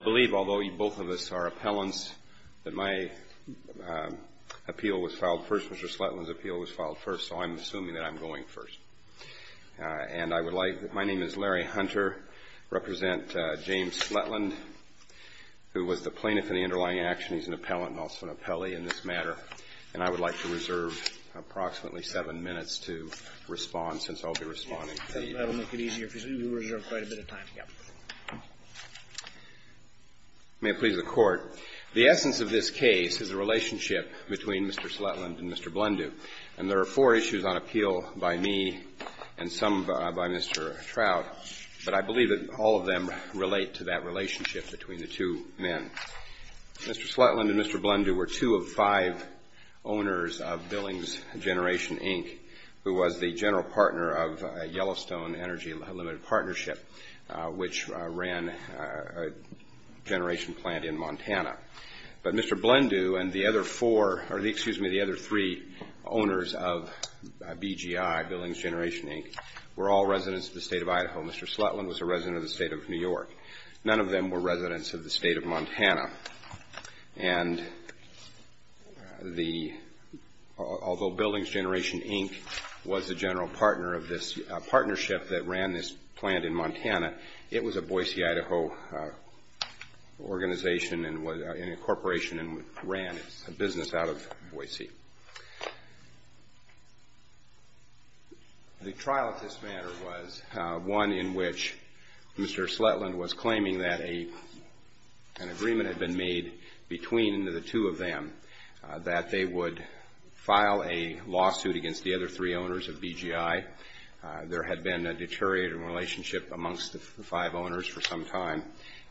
I believe, although both of us are appellants, that my appeal was filed first, Mr. Sletteland's appeal was filed first, so I'm assuming that I'm going first. And I would like, my name is Larry Hunter, I represent James Sletteland, who was the plaintiff in the underlying action. He's an appellant and also an appellee in this matter. And I would like to reserve approximately seven minutes to respond, since I'll be responding to you. That will make it easier for you. You reserve quite a bit of time. May it please the Court. The essence of this case is the relationship between Mr. Sletteland and Mr. Blendu. And there are four issues on appeal by me and some by Mr. Trout, but I believe that all of them relate to that relationship between the two men. Mr. Sletteland and Mr. Blendu were two of five owners of Billings Generation, Inc., who was the general partner of Yellowstone Energy Limited Partnership, which ran a generation plant in Montana. But Mr. Blendu and the other four, or excuse me, the other three owners of BGI, Billings Generation, Inc., were all residents of the State of Idaho. Mr. Sletteland was a resident of the State of New York. None of them were residents of the State of Montana. And the, although Billings Generation, Inc. was the general partner of this partnership that ran this plant in Montana, it was a Boise, Idaho organization and a corporation and ran a business out of Boise. The trial at this matter was one in which Mr. Sletteland was claiming that an agreement had been made between the two of them that they would file a lawsuit against the other three owners of BGI. There had been a deteriorating relationship amongst the five owners for some time,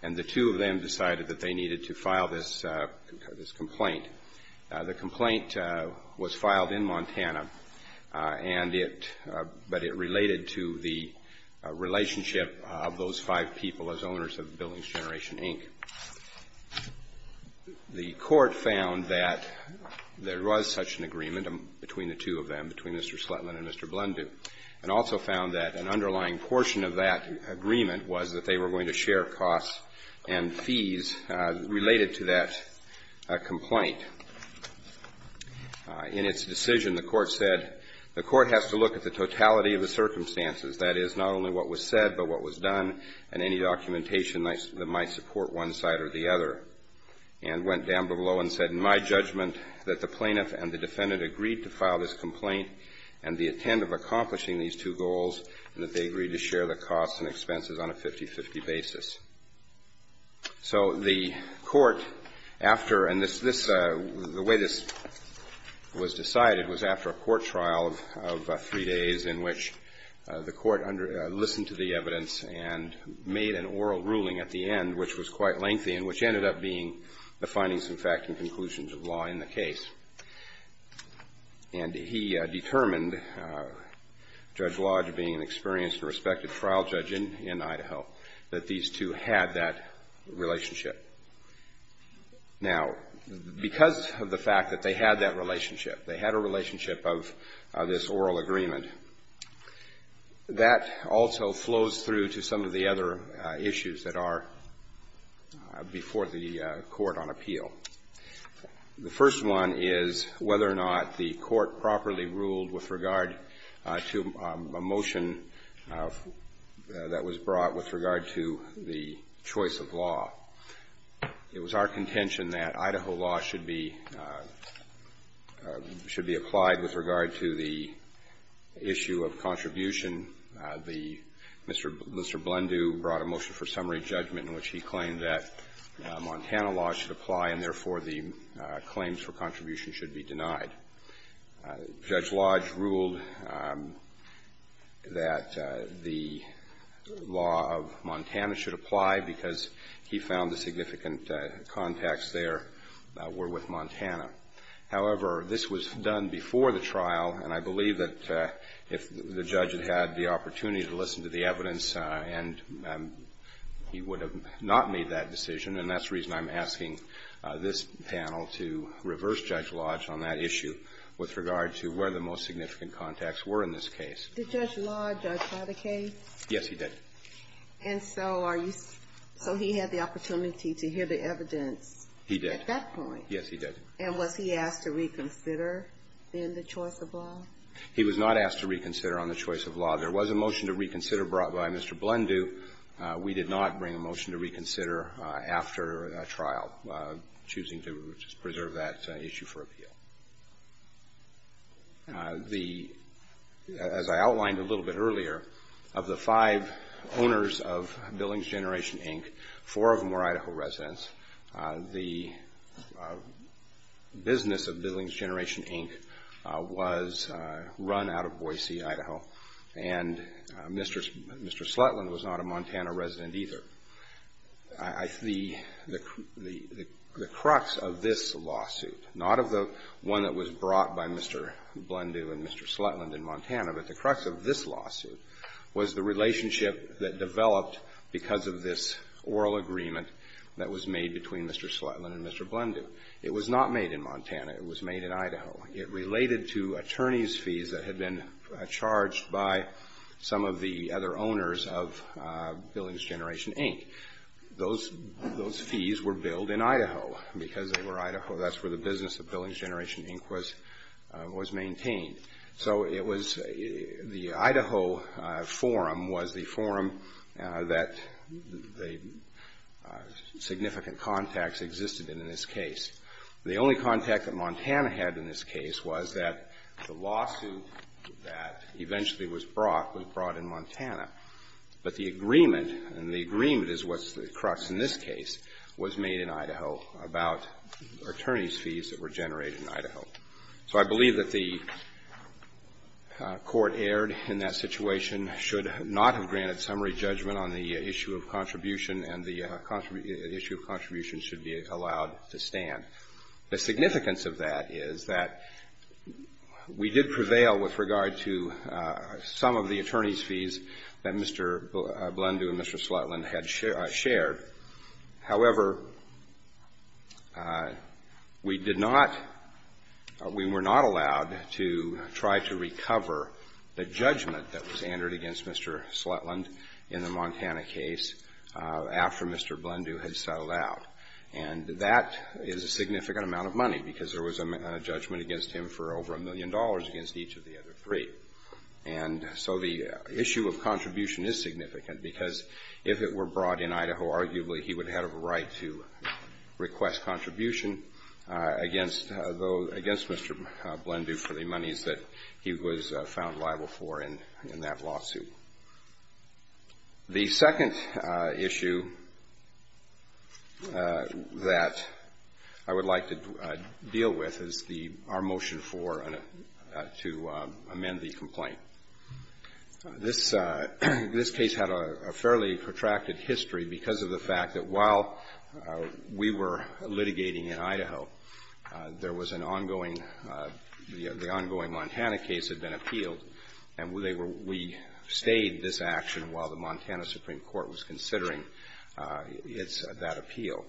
and the two of them decided that they needed to file this complaint. The complaint was filed in Montana, and it, but it related to the relationship of those five people as Billings Generation, Inc. The court found that there was such an agreement between the two of them, between Mr. Sletteland and Mr. Blendu, and also found that an underlying portion of that agreement was that they were going to share costs and fees related to that complaint. In its decision, the court said the court has to look at the totality of the companies that might support one side or the other, and went down below and said, in my judgment, that the plaintiff and the defendant agreed to file this complaint and the intent of accomplishing these two goals, and that they agreed to share the costs and expenses on a 50-50 basis. So the court, after, and this, the way this was decided was after a court trial of three days in which the court listened to the evidence and made an oral ruling at the end, which was quite lengthy and which ended up being the findings and fact and conclusions of law in the case. And he determined, Judge Lodge being an experienced and respected trial judge in, in Idaho, that these two had that relationship. Now, because of the fact that they had that relationship, they had a relationship of this oral agreement, and that also flows through to some of the other issues that are before the court on appeal. The first one is whether or not the court properly ruled with regard to a motion that was brought with regard to the choice of law. It was our contention that Idaho law should be, should be applied with regard to the issue of contribution. The Mr. Blendew brought a motion for summary judgment in which he claimed that Montana law should apply, and therefore, the claims for contribution should be denied. Judge Lodge ruled that the law of Montana should apply because he found the significant contacts were with Montana. However, this was done before the trial, and I believe that if the judge had had the opportunity to listen to the evidence, and he would have not made that decision, and that's the reason I'm asking this panel to reverse Judge Lodge on that issue with regard to where the most significant contacts were in this case. Did Judge Lodge have a case? Yes, he did. And so are you, so he had the opportunity to hear the evidence at that point? Yes, he did. And was he asked to reconsider in the choice of law? He was not asked to reconsider on the choice of law. There was a motion to reconsider brought by Mr. Blendew. We did not bring a motion to reconsider after a trial, choosing to preserve that issue for appeal. The, as I outlined a little bit earlier, of the five owners of Billings Generation Inc., four of them were Idaho residents. The business of Billings Generation Inc. was run out of Boise, Idaho, and Mr. Slutland was not a Montana resident either. The crux of this lawsuit, not of the one that was brought by Mr. Blendew and Mr. Slutland in Montana, but the crux of this lawsuit was the relationship that developed because of this oral agreement that was made between Mr. Slutland and Mr. Blendew. It was not made in Montana. It was made in Idaho. It related to attorney's fees that had been charged by some of the other owners of Billings Generation Inc. Those fees were billed in Idaho because they were Idaho. That's where the business of Billings Generation Inc. was maintained. So it was the Idaho forum was the forum that the significant contacts existed in in this case. The only contact that Montana had in this case was that the lawsuit that eventually was brought was brought in Montana. But the agreement, and the agreement is what's the crux in this case, was made in Idaho about attorney's fees that were generated in Idaho. So I believe that the court erred in that situation, should not have granted summary judgment on the issue of contribution, and the issue of contribution should be allowed to stand. The significance of that is that we did prevail with regard to some of the attorney's fees that Mr. Blendew and Mr. Slutland had shared. However, we did not, we were not allowed to try to recover the judgment that was entered against Mr. Slutland in the Montana case after Mr. Blendew had settled out. And that is a significant amount of money because there was a judgment against him for over a million dollars against each of the other three. And so the issue of contribution is significant because if it were brought in Idaho, arguably he would have a right to request contribution against those, against Mr. Blendew for the monies that he was found liable for in that lawsuit. The second issue that I would like to deal with is the, our motion for, to amend the history because of the fact that while we were litigating in Idaho, there was an ongoing the ongoing Montana case had been appealed, and they were, we stayed this action while the Montana Supreme Court was considering its, that appeal.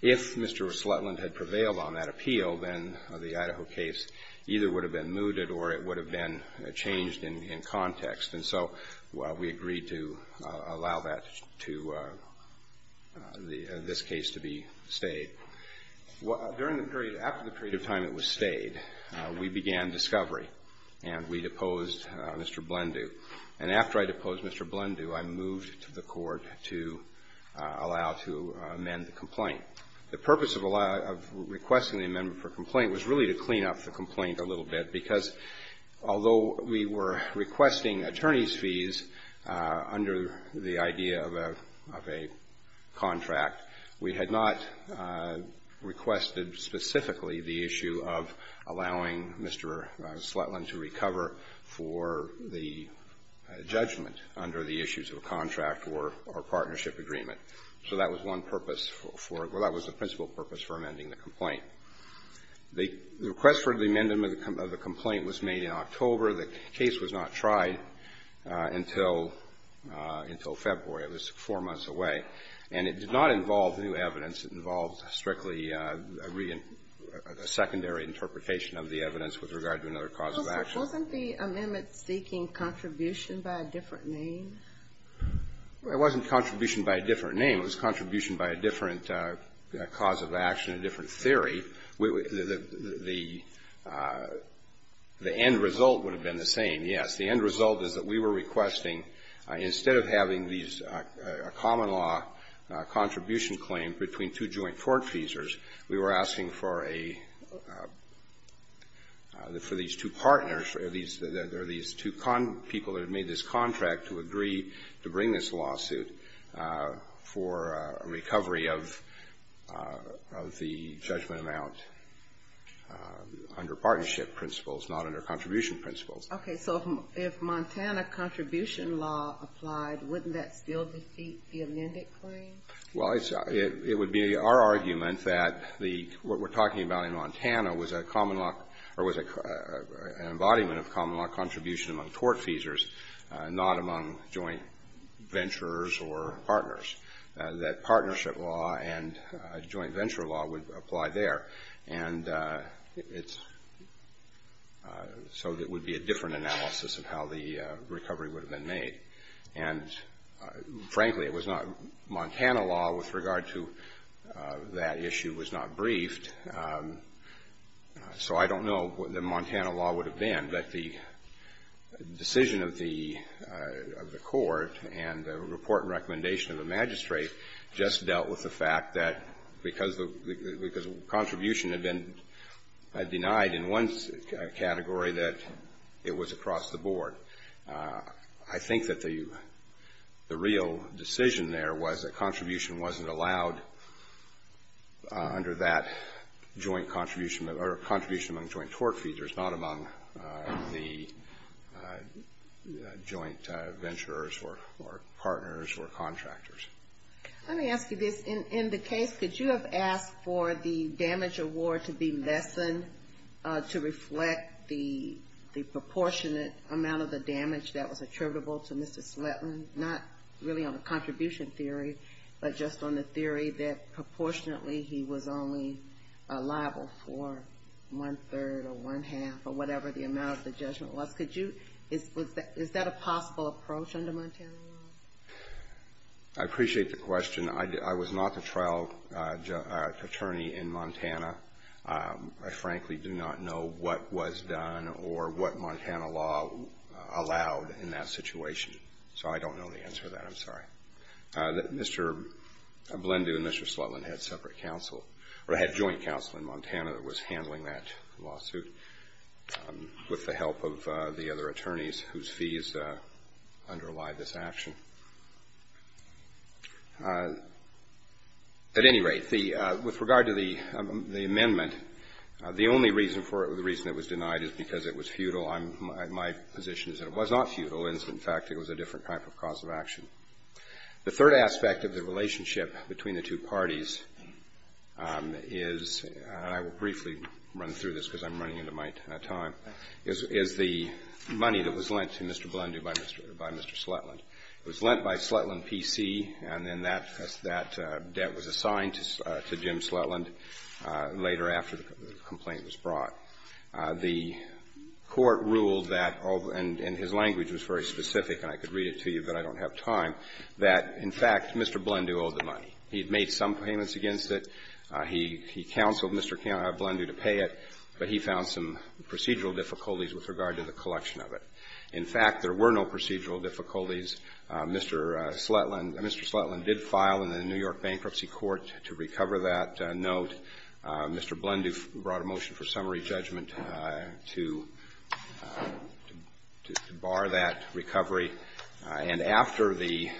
If Mr. Slutland had prevailed on that appeal, then the Idaho case either would have been mooted or it would have been moved to this case to be stayed. During the period, after the period of time it was stayed, we began discovery, and we deposed Mr. Blendew. And after I deposed Mr. Blendew, I moved to the court to allow to amend the complaint. The purpose of requesting the amendment for complaint was really to clean up the complaint a little bit because although we were requesting attorneys' fees under the idea of a, of a contract, we had not requested specifically the issue of allowing Mr. Slutland to recover for the judgment under the issues of a contract or, or partnership agreement. So that was one purpose for, well, that was the principal purpose for amending the complaint. The request for the amendment of the complaint was made in October. The case was not tried until, until February. It was four months away. And it did not involve new evidence. It involved strictly a secondary interpretation of the evidence with regard to another cause of action. Wasn't the amendment seeking contribution by a different name? It wasn't contribution by a different name. It was contribution by a different cause of action, a different theory. The, the end result would have been the same, yes. The end result is that we were requesting, instead of having these, a common law contribution claim between two joint court feesers, we were asking for a, for these two partners, or these, or these two people that had made this contract to agree to bring this lawsuit for a recovery of, of the judgment amount under partnership principles, not under contribution principles. Okay. So if Montana contribution law applied, wouldn't that still defeat the amended claim? Well, it's, it would be our argument that the, what we're talking about in Montana was a common law, or was an embodiment of common law contribution among court feesers, not among joint venturers or partners, that partnership law and joint So it would be a different analysis of how the recovery would have been made. And frankly, it was not, Montana law with regard to that issue was not briefed. So I don't know what the Montana law would have been, but the decision of the, of the court and the report and recommendation of the magistrate just dealt with the fact that because the, because contribution had been denied in one category, that it was across the board. I think that the, the real decision there was that contribution wasn't allowed under that joint contribution, or contribution among joint court feesers, not among the joint venturers or, or partners or contractors. Let me ask you this. In, in the case, could you have asked for the damage award to be lessened to reflect the, the proportionate amount of the damage that was attributable to Mr. Sletton, not really on the contribution theory, but just on the theory that proportionately he was only liable for one-third or one-half or whatever the amount of the judgment was? Could you, is, was that, is that a possible approach under Montana law? I appreciate the question. I, I was not the trial attorney in Montana. I frankly do not know what was done or what Montana law allowed in that situation. So I don't know the answer to that. I'm sorry. Mr. Blendu and Mr. Slutland had separate counsel, or had joint counsel in Montana that was handling that lawsuit with the help of the other attorneys whose fees underlie this action. At any rate, the, with regard to the, the amendment, the only reason for it, the reason it was denied is because it was futile. I'm, my position is that it was not futile. In fact, it was a different type of cause of action. The third aspect of the relationship between the two parties is, and I will briefly run through this because I'm running into my time, is, is the money that was lent to Mr. Blendu by Mr. Slutland. It was lent by Slutland PC, and then that, that debt was assigned to Jim Slutland later after the complaint was brought. The court ruled that, and his language was very specific, and I could read it to you, but I don't have time, that, in fact, Mr. Blendu owed the money. He had made some payments against it. He, he counseled Mr. Blendu to pay it, but he found some procedural difficulties with regard to the collection of it. In fact, there were no procedural difficulties. Mr. Slutland, Mr. Slutland did file in the New York Bankruptcy Court to recover that note. Mr. Blendu brought a motion for summary judgment to, to bar that recovery. And after the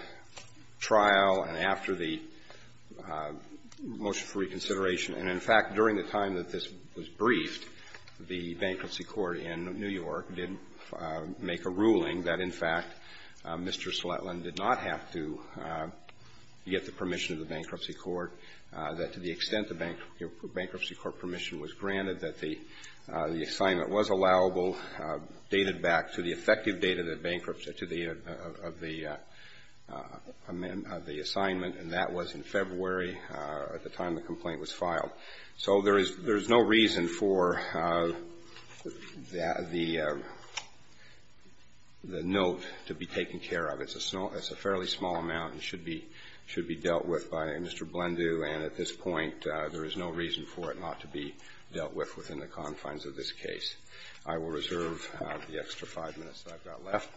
trial and after the motion for reconsideration and, in fact, during the time that this was briefed, the Bankruptcy Court in New York did make a ruling that, in fact, Mr. Slutland did not have to get the permission of the Bankruptcy Court, that to the extent the Bankruptcy Court permission was granted, that the assignment was allowable, dated back to the effective date of the bankruptcy, to the, of the, of the assignment, and that was in February at the time the complaint was filed. So there is, there is no reason for that, the, the note to be taken care of. It's a small, it's a fairly small amount and should be, should be dealt with by Mr. Blendu. And at this point, there is no reason for it not to be dealt with within the confines of this case. I will reserve the extra five minutes that I've got left.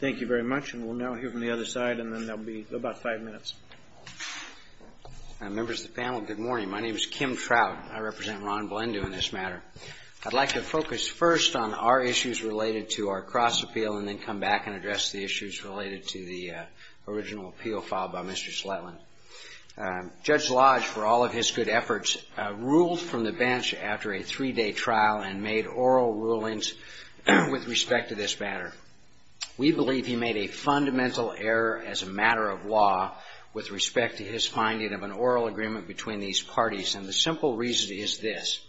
Thank you very much. And we'll now hear from the other side and then there will be about five minutes. Members of the panel, good morning. My name is Kim Trout. I represent Ron Blendu in this matter. I'd like to focus first on our issues related to our cross-appeal and then come back and address the issues related to the original appeal filed by Mr. Sletland. Judge Lodge, for all of his good efforts, ruled from the bench after a three-day trial and made oral rulings with respect to this matter. We believe he made a fundamental error as a matter of law with respect to his finding of an oral agreement between these parties. And the simple reason is this.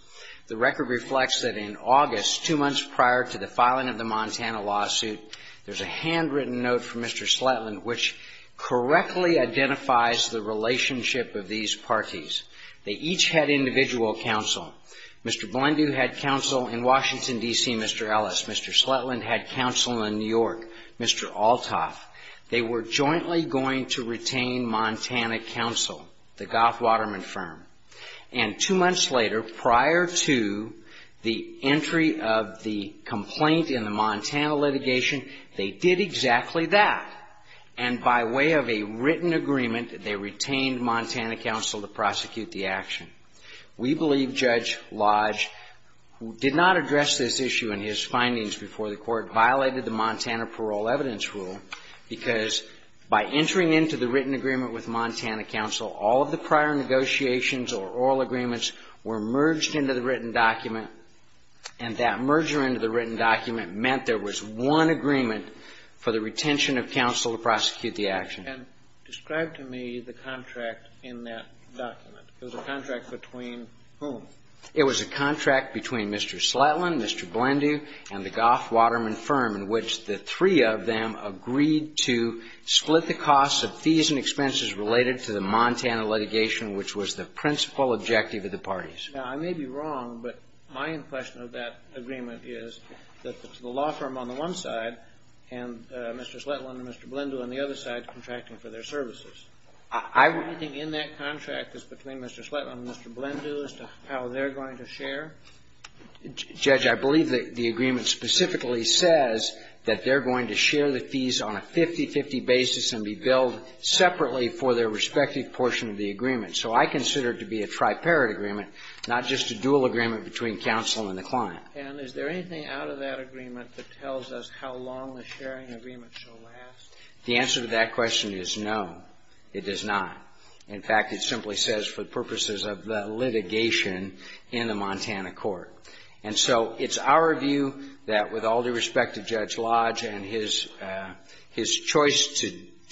The record from Mr. Sletland which correctly identifies the relationship of these parties. They each had individual counsel. Mr. Blendu had counsel in Washington, D.C., Mr. Ellis. Mr. Sletland had counsel in New York, Mr. Althoff. They were jointly going to retain Montana counsel, the Goth Waterman firm. And two months later, prior to the entry of the complaint in the Montana litigation, they did exactly that. And by way of a written agreement, they retained Montana counsel to prosecute the action. We believe Judge Lodge did not address this issue in his findings before the court, violated the Montana parole evidence rule, because by entering into the written agreement with Montana merger into the written document meant there was one agreement for the retention of counsel to prosecute the action. And describe to me the contract in that document. It was a contract between whom? It was a contract between Mr. Sletland, Mr. Blendu, and the Goth Waterman firm in which the three of them agreed to split the costs of fees and expenses related to the Montana litigation, which was the principal objective of the parties. Now, I may be wrong, but my impression of that agreement is that it's the law firm on the one side and Mr. Sletland and Mr. Blendu on the other side contracting for their services. Is there anything in that contract that's between Mr. Sletland and Mr. Blendu as to how they're going to share? Judge, I believe the agreement specifically says that they're going to share the fees on a 50-50 basis and be billed separately for their respective portion of the agreement. So I consider it to be a triparate agreement, not just a dual agreement between counsel and the client. And is there anything out of that agreement that tells us how long the sharing agreement shall last? The answer to that question is no, it does not. In fact, it simply says for purposes of the litigation in the Montana court. And so it's our view that with all due respect to Judge Lodge and his choice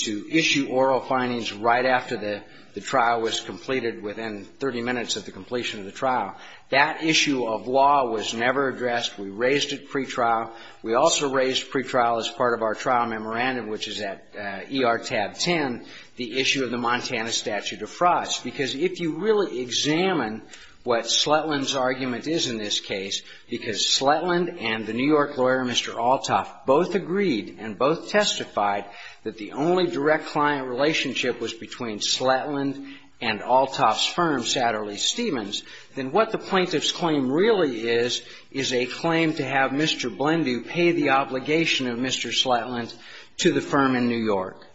to issue oral findings right after the trial was completed within 30 minutes of the completion of the trial, that issue of law was never addressed. We raised it pretrial. We also raised pretrial as part of our trial memorandum, which is at ER tab 10, the issue of the Montana statute of frauds. Because if you really examine what Sletland's argument is in this case, because Sletland and the New York lawyer, Mr. Althoff, both agreed and both testified that the only direct client relationship was between Sletland and Althoff's firm, Satterley Stevens, then what the plaintiff's claim really is, is a claim to have Mr. Blendu pay the obligation of Mr. Sletland to the firm in New York.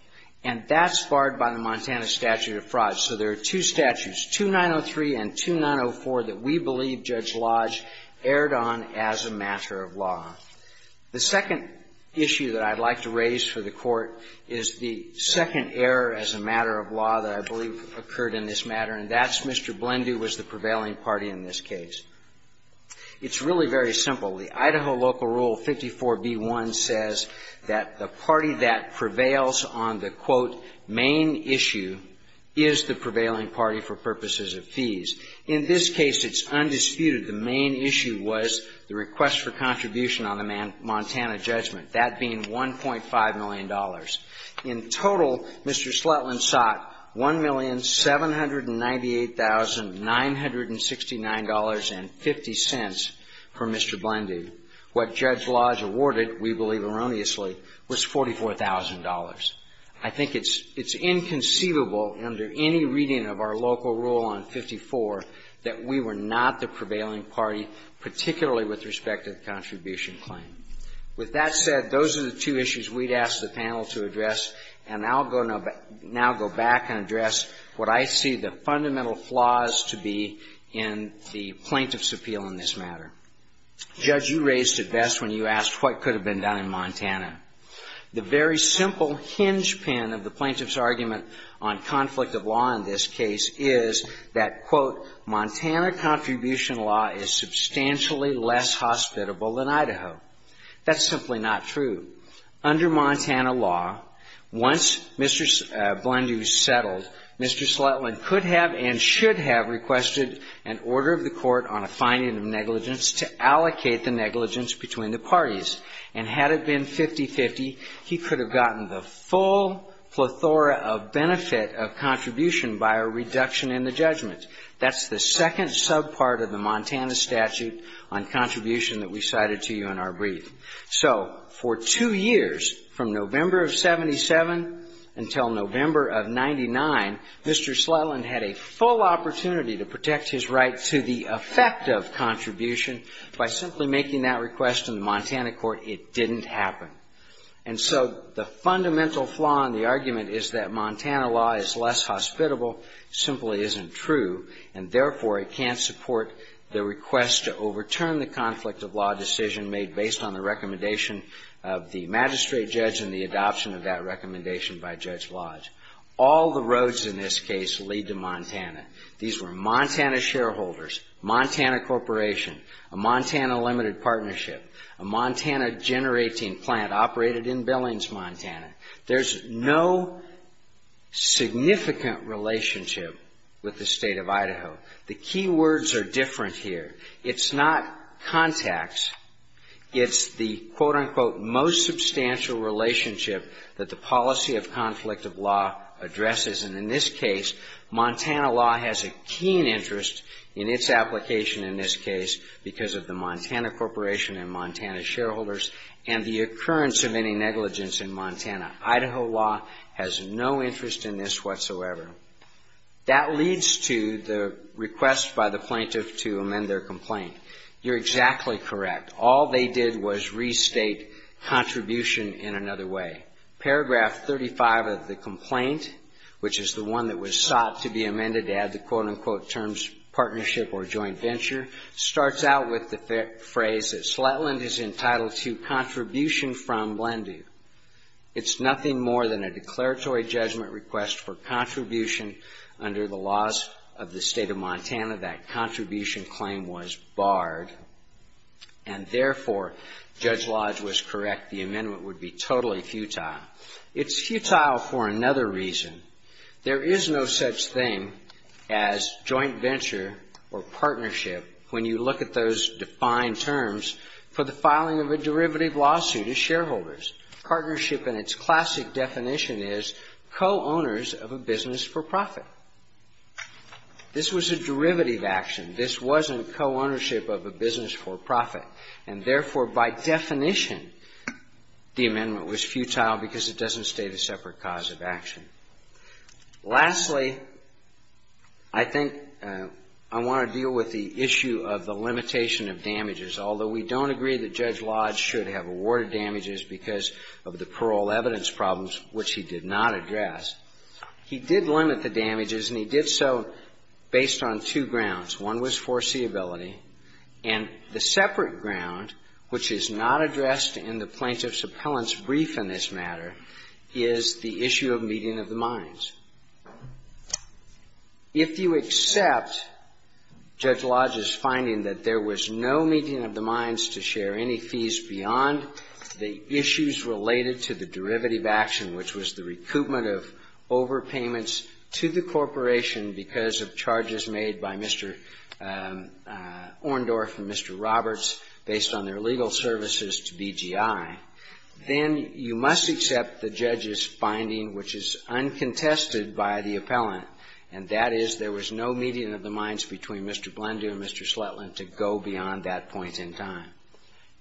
And that's barred by the Montana statute of frauds. So there are two statutes, 2903 and 2904, that we believe Judge Lodge erred on as a matter of law. The second issue that I'd like to raise for the Court is the second error as a matter of law that I believe occurred in this matter, and that's Mr. Blendu was the prevailing party in this case. It's really very simple. The Idaho local rule 54b-1 says that the party that prevails on the, quote, main issue is the prevailing party for purposes of fees. In this case, it's undisputed. The main issue was the request for contribution on the Montana judgment, that being $1.5 million. In total, Mr. Sletland sought $1,798,969.50 from Mr. Blendu. What Judge Lodge awarded, we believe erroneously, was $44,000. I think it's inconceivable under any reading of our local rule on 54 that we were not the prevailing party, particularly with respect to the contribution claim. With that said, those are the two issues we'd ask the panel to address, and I'll go now go back and address what I see the fundamental flaws to be in the plaintiff's appeal in this matter. Judge, you raised it best when you asked what could have been done in Montana. The very simple hinge pin of the plaintiff's argument on conflict of law in this case is that, quote, Montana contribution law is substantially less hospitable than Idaho. That's simply not true. Under Montana law, once Mr. Blendu settled, Mr. Sletland could have and should have requested an order of the court on a finding of negligence to allocate the negligence between the parties. And had it been 50-50, he could have gotten the full plethora of benefit of contribution by a reduction in the judgment. That's the second subpart of the Montana statute on contribution that we cited to you in our briefing. So for two years, from November of 77 until November of 99, Mr. Sletland had a full opportunity to protect his right to the effect of contribution by simply making that request in the Montana court. It didn't happen. And so the fundamental flaw in the argument is that Montana law is less hospitable simply isn't true, and therefore, it can't support the request to overturn the conflict of law decision made based on the recommendation of the magistrate judge and the adoption of that recommendation by Judge Lodge. All the roads in this case lead to Montana. These were Montana shareholders, Montana Corporation, a Montana limited partnership, a Montana generating plant operated in Billings, Montana. There's no significant relationship with the State of Idaho. The key words are different here. It's not contacts. It's the quote, unquote, most substantial relationship that the policy of conflict of law addresses. And in this case, Montana law has a keen interest in its application in this case because of the Montana Corporation and Montana shareholders and the occurrence of any negligence in Montana. Idaho law has no interest in this whatsoever. That leads to the request by the plaintiff to amend their complaint. You're exactly correct. All they did was restate contribution in another way. Paragraph 35 of the complaint, which is the one that was sought to be amended to quote, unquote, terms partnership or joint venture, starts out with the phrase that Sletland is entitled to contribution from Lendu. It's nothing more than a declaratory judgment request for contribution under the laws of the State of Montana. That contribution claim was barred, and therefore, Judge Lodge was correct. The amendment would be totally futile. It's futile for another reason. There is no such thing as joint venture or partnership when you look at those defined terms for the filing of a derivative lawsuit to shareholders. Partnership in its classic definition is co-owners of a business for profit. This was a derivative action. This wasn't co-ownership of a business for profit. And therefore, by definition, the amendment was futile because it doesn't state a separate cause of action. Lastly, I think I want to deal with the issue of the limitation of damages, although we don't agree that Judge Lodge should have awarded damages because of the parole evidence problems, which he did not address. He did limit the damages, and he did so based on two grounds. One was foreseeability. And the separate ground, which is not addressed in the plaintiff's appellant's brief in this matter, is the issue of meeting of the minds. If you accept Judge Lodge's finding that there was no meeting of the minds to share any fees beyond the issues related to the derivative action, which was the recoupment of overpayments to the corporation because of charges made by Mr. Orndorff and Mr. G.I., then you must accept the judge's finding, which is uncontested by the appellant, and that is there was no meeting of the minds between Mr. Blendon and Mr. Slutland to go beyond that point in time.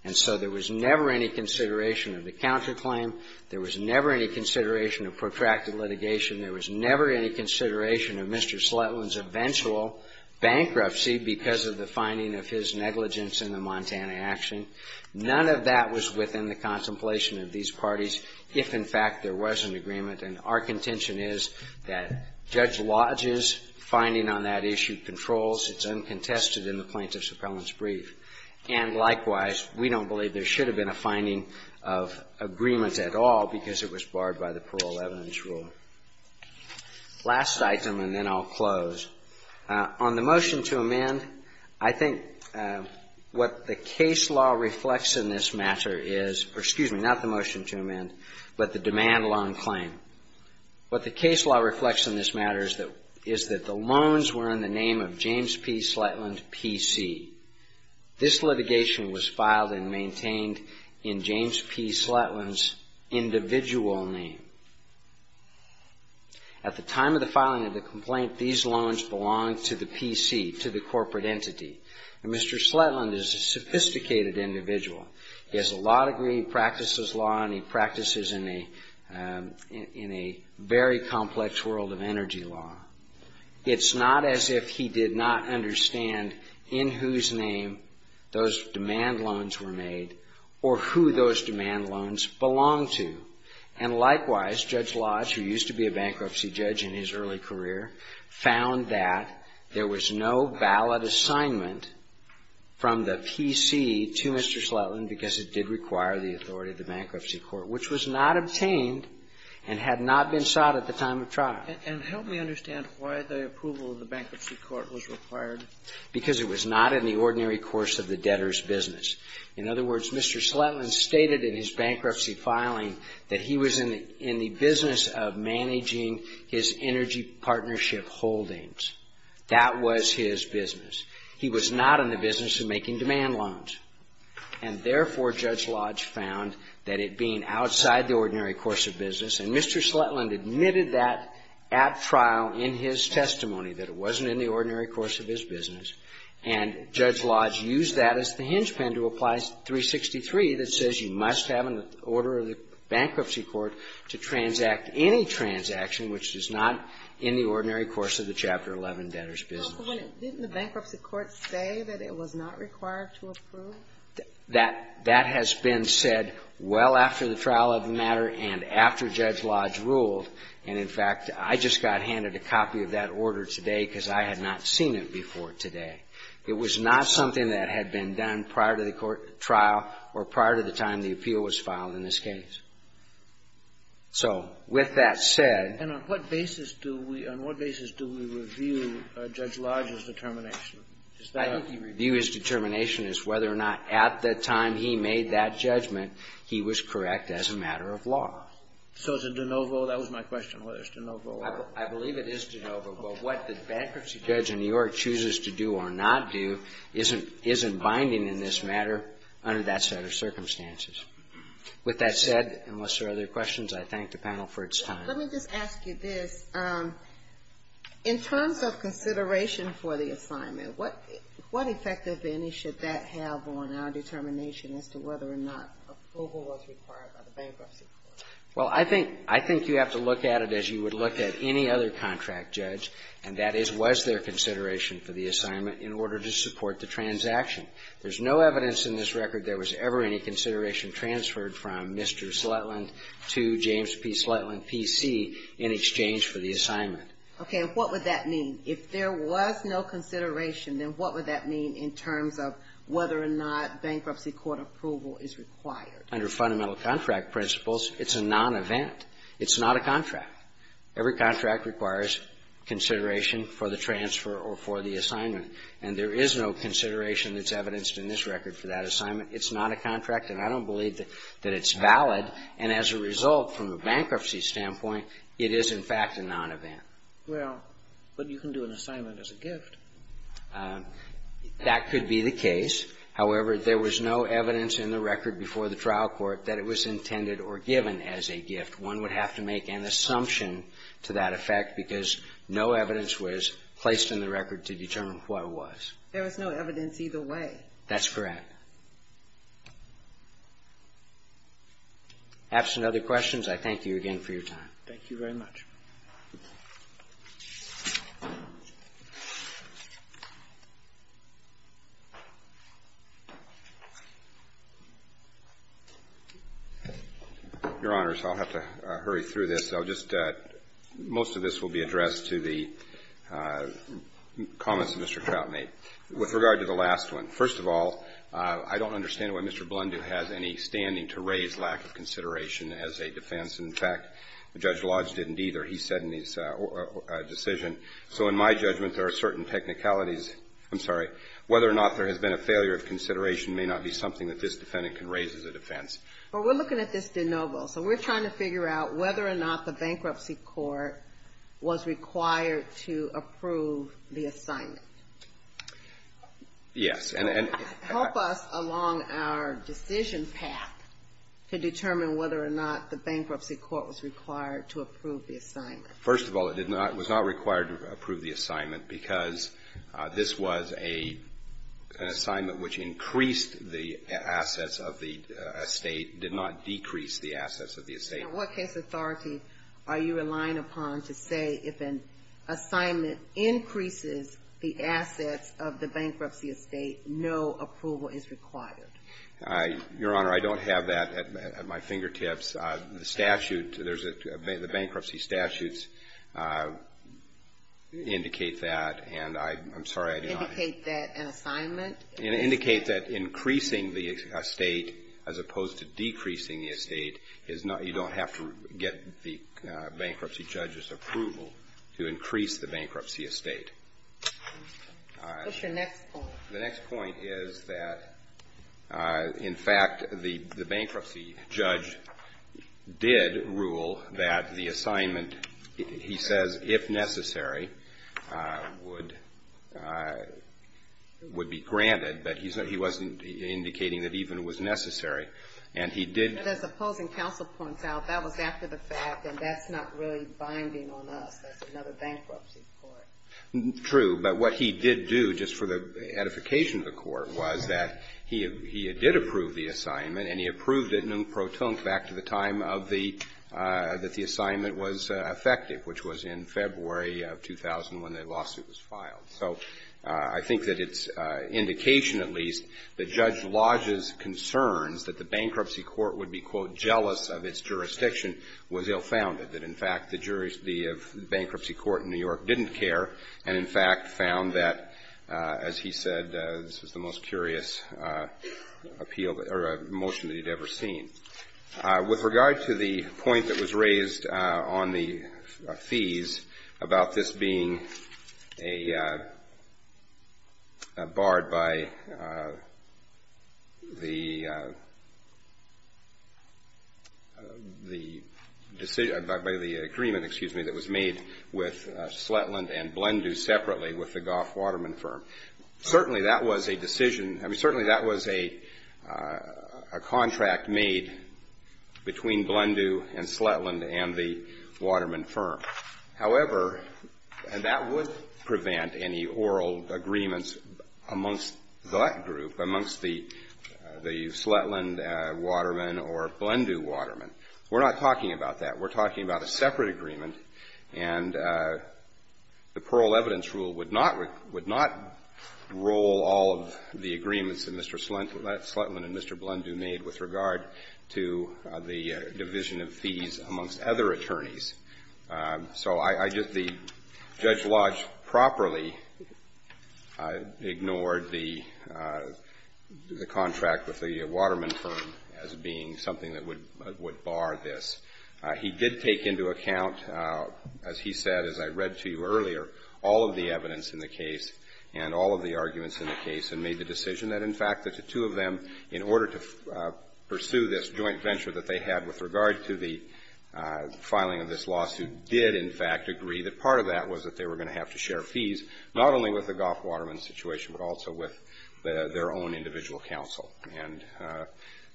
And so there was never any consideration of the counterclaim. There was never any consideration of protracted litigation. There was never any consideration of Mr. Slutland's eventual bankruptcy because of the finding of his negligence in the Montana action. None of that was within the contemplation of these parties, if, in fact, there was an agreement. And our contention is that Judge Lodge's finding on that issue controls. It's uncontested in the plaintiff's appellant's brief. And, likewise, we don't believe there should have been a finding of agreement at all because it was barred by the Parole Evidence Rule. Last item, and then I'll close. On the motion to amend, I think what the case law reflects in this matter is or, excuse me, not the motion to amend, but the demand loan claim. What the case law reflects in this matter is that the loans were in the name of James P. Slutland, P.C. This litigation was filed and maintained in James P. Slutland's individual name. At the time of the filing of the complaint, these loans belonged to the P.C., to the corporate entity. Now, Mr. Slutland is a sophisticated individual. He has a law degree. He practices law, and he practices in a very complex world of energy law. It's not as if he did not understand in whose name those demand loans were made or who those demand loans belonged to. And likewise, Judge Lodge, who used to be a bankruptcy judge in his early career, found that there was no ballot assignment from the P.C. to Mr. Slutland because it did require the authority of the bankruptcy court, which was not obtained and had not been sought at the time of trial. And help me understand why the approval of the bankruptcy court was required. Because it was not in the ordinary course of the debtor's business. In other words, Mr. Slutland stated in his bankruptcy filing that he was in the business of managing his energy partnership holdings. That was his business. He was not in the business of making demand loans. And therefore, Judge Lodge found that it being outside the ordinary course of business, and Mr. Slutland admitted that at trial in his testimony, that it wasn't in the ordinary course of his business, And Judge Lodge used that as the hinge pin to apply 363 that says you must have an order of the bankruptcy court to transact any transaction which is not in the ordinary course of the Chapter 11 debtor's business. Didn't the bankruptcy court say that it was not required to approve? That has been said well after the trial of the matter and after Judge Lodge ruled. And, in fact, I just got handed a copy of that order today because I had not seen it before today. It was not something that had been done prior to the trial or prior to the time the appeal was filed in this case. So with that said, And on what basis do we review Judge Lodge's determination? I think he reviewed his determination as whether or not at the time he made that judgment he was correct as a matter of law. So is it de novo? That was my question, whether it's de novo or not. I believe it is de novo, but what the bankruptcy judge in New York chooses to do or not do isn't binding in this matter under that set of circumstances. With that said, unless there are other questions, I thank the panel for its time. Let me just ask you this. In terms of consideration for the assignment, what effect, if any, should that have on our determination as to whether or not approval was required by the bankruptcy court? Well, I think you have to look at it as you would look at any other contract judge, and that is, was there consideration for the assignment in order to support the transaction? There's no evidence in this record there was ever any consideration transferred from Mr. Slutland to James P. Slutland, P.C., in exchange for the assignment. And what would that mean? If there was no consideration, then what would that mean in terms of whether or not bankruptcy court approval is required? Under fundamental contract principles, it's a non-event. It's not a contract. Every contract requires consideration for the transfer or for the assignment. And there is no consideration that's evidenced in this record for that assignment. It's not a contract, and I don't believe that it's valid. And as a result, from a bankruptcy standpoint, it is, in fact, a non-event. Well, but you can do an assignment as a gift. That could be the case. However, there was no evidence in the record before the trial court that it was intended or given as a gift. One would have to make an assumption to that effect because no evidence was placed in the record to determine what it was. There was no evidence either way. That's correct. Absent other questions, I thank you again for your time. Thank you very much. Your Honors, I'll have to hurry through this. I'll just – most of this will be addressed to the comments of Mr. Troutmate. With regard to the last one, first of all, I don't understand why Mr. Blundoo has any standing to raise lack of consideration as a defense. In fact, Judge Lodge didn't either. He said in his decision, so in my judgment, there are certain technicalities – I'm sorry – whether or not there has been a failure of consideration may not be something that this defendant can raise as a defense. Well, we're looking at this de novo. So we're trying to figure out whether or not the bankruptcy court was required to approve the assignment. Yes. Help us along our decision path to determine whether or not the bankruptcy court was required to approve the assignment. First of all, it did not – it was not required to approve the assignment because this was an assignment which increased the assets of the estate, did not decrease the assets of the estate. In what case authority are you relying upon to say if an assignment increases the assets of the bankruptcy estate, no approval is required? Your Honor, I don't have that at my fingertips. The statute – the bankruptcy statutes indicate that, and I'm sorry, I do not. Indicate that an assignment is? Indicate that increasing the estate as opposed to decreasing the estate is not – you What's your next point? The next point is that, in fact, the bankruptcy judge did rule that the assignment, he says, if necessary, would be granted. But he wasn't indicating that even it was necessary. And he did – But as opposing counsel points out, that was after the fact, and that's not really binding on us as another bankruptcy court. True. But what he did do, just for the edification of the court, was that he did approve the assignment, and he approved it non pro tonque back to the time of the – that the assignment was effective, which was in February of 2000 when the lawsuit was filed. So I think that it's indication, at least, that Judge Lodge's concerns that the bankruptcy court would be, quote, jealous of its jurisdiction was ill-founded, that, in fact, the bankruptcy court in New York didn't care and, in fact, found that, as he said, this was the most curious appeal – or motion that he'd ever seen. With regard to the point that was raised on the fees about this being a – barred by the decision – by the agreement, excuse me, that was made with Sletland and Blendu separately with the Goff-Waterman firm, certainly that was a decision – I mean, certainly that was a contract made between Blendu and Sletland and the Waterman firm. However, and that would prevent any oral agreements amongst that group, amongst the Sletland Waterman or Blendu Waterman. We're not talking about that. We're talking about a separate agreement, and the Pearl Evidence Rule would not roll all of the agreements that Mr. Sletland and Mr. Blendu made with regard to the division of fees amongst other attorneys. So I just – Judge Lodge properly ignored the contract with the Waterman firm as being something that would bar this. He did take into account, as he said, as I read to you earlier, all of the evidence in the case and all of the arguments in the case, and made the decision that, in fact, that the two of them, in order to pursue this joint venture that they had with regard to the filing of this lawsuit, did, in fact, agree that part of that was that they were going to have to share fees, not only with the Goff-Waterman situation, but also with their own individual counsel. And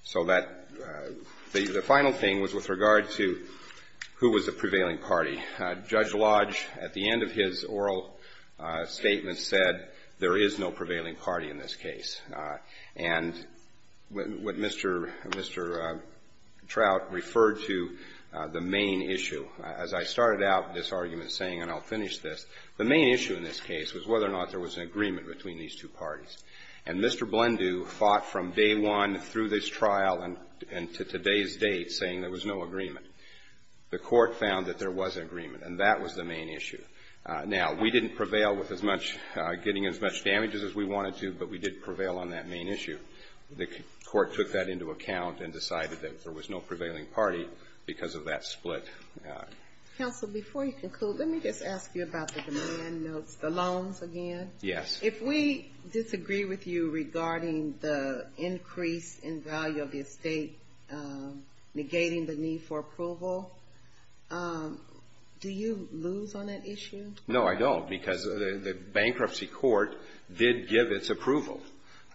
so that – the final thing was with regard to who was the prevailing party. Judge Lodge, at the end of his oral statement, said there is no prevailing party in this case. And what Mr. Trout referred to, the main issue. As I started out this argument saying, and I'll finish this, the main issue in this case was whether or not there was an agreement between these two parties. And Mr. Blendu fought from day one through this trial and to today's date saying there was no agreement. The Court found that there was an agreement, and that was the main issue. Now, we didn't prevail with as much – getting as much damages as we wanted to, but we did prevail on that main issue. The Court took that into account and decided that there was no prevailing party because of that split. Counsel, before you conclude, let me just ask you about the demand notes, the loans again. Yes. If we disagree with you regarding the increase in value of the estate, negating the need for approval, do you lose on that issue? No, I don't, because the bankruptcy court did give its approval.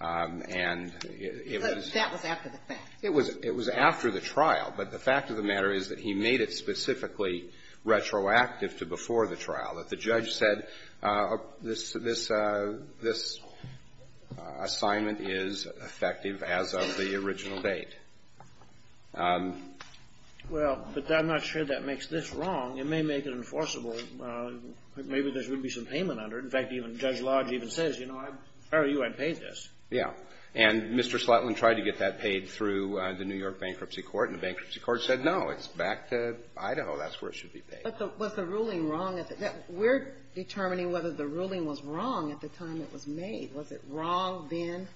And it was – But that was after the fact. It was after the trial. But the fact of the matter is that he made it specifically retroactive to before the trial, that the judge said this assignment is effective as of the original date. Well, but I'm not sure that makes this wrong. It may make it enforceable. Maybe there should be some payment under it. In fact, even Judge Lodge even says, you know, I'm proud of you. I paid this. Yeah. And Mr. Slotlin tried to get that paid through the New York Bankruptcy Court, and the bankruptcy court said, no, it's back to Idaho. That's where it should be paid. But was the ruling wrong? We're determining whether the ruling was wrong at the time it was made. Was it wrong then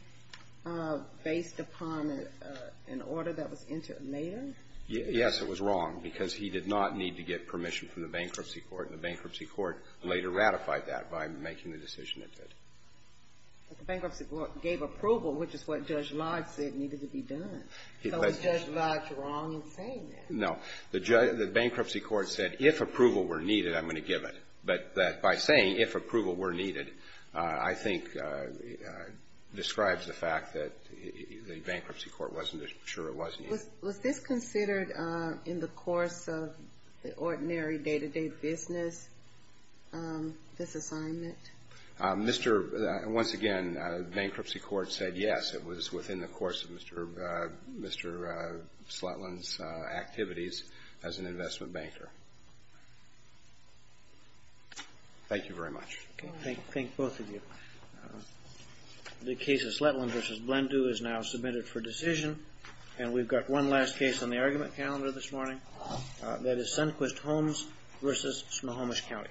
based upon an order that was entered later? Yes, it was wrong, because he did not need to get permission from the bankruptcy court. And the bankruptcy court later ratified that by making the decision it did. But the bankruptcy court gave approval, which is what Judge Lodge said needed to be done. So was Judge Lodge wrong in saying that? No. The bankruptcy court said, if approval were needed, I'm going to give it. But by saying, if approval were needed, I think describes the fact that the bankruptcy court wasn't sure it was needed. Was this considered in the course of the ordinary day-to-day business, this assignment? Once again, the bankruptcy court said yes. It was within the course of Mr. Slotlin's activities as an investment banker. Thank you very much. Thank both of you. The case of Slotlin v. Blendu is now submitted for decision. And we've got one last case on the argument calendar this morning. That is Sundquist Homes v. Smohomish County. Thank you.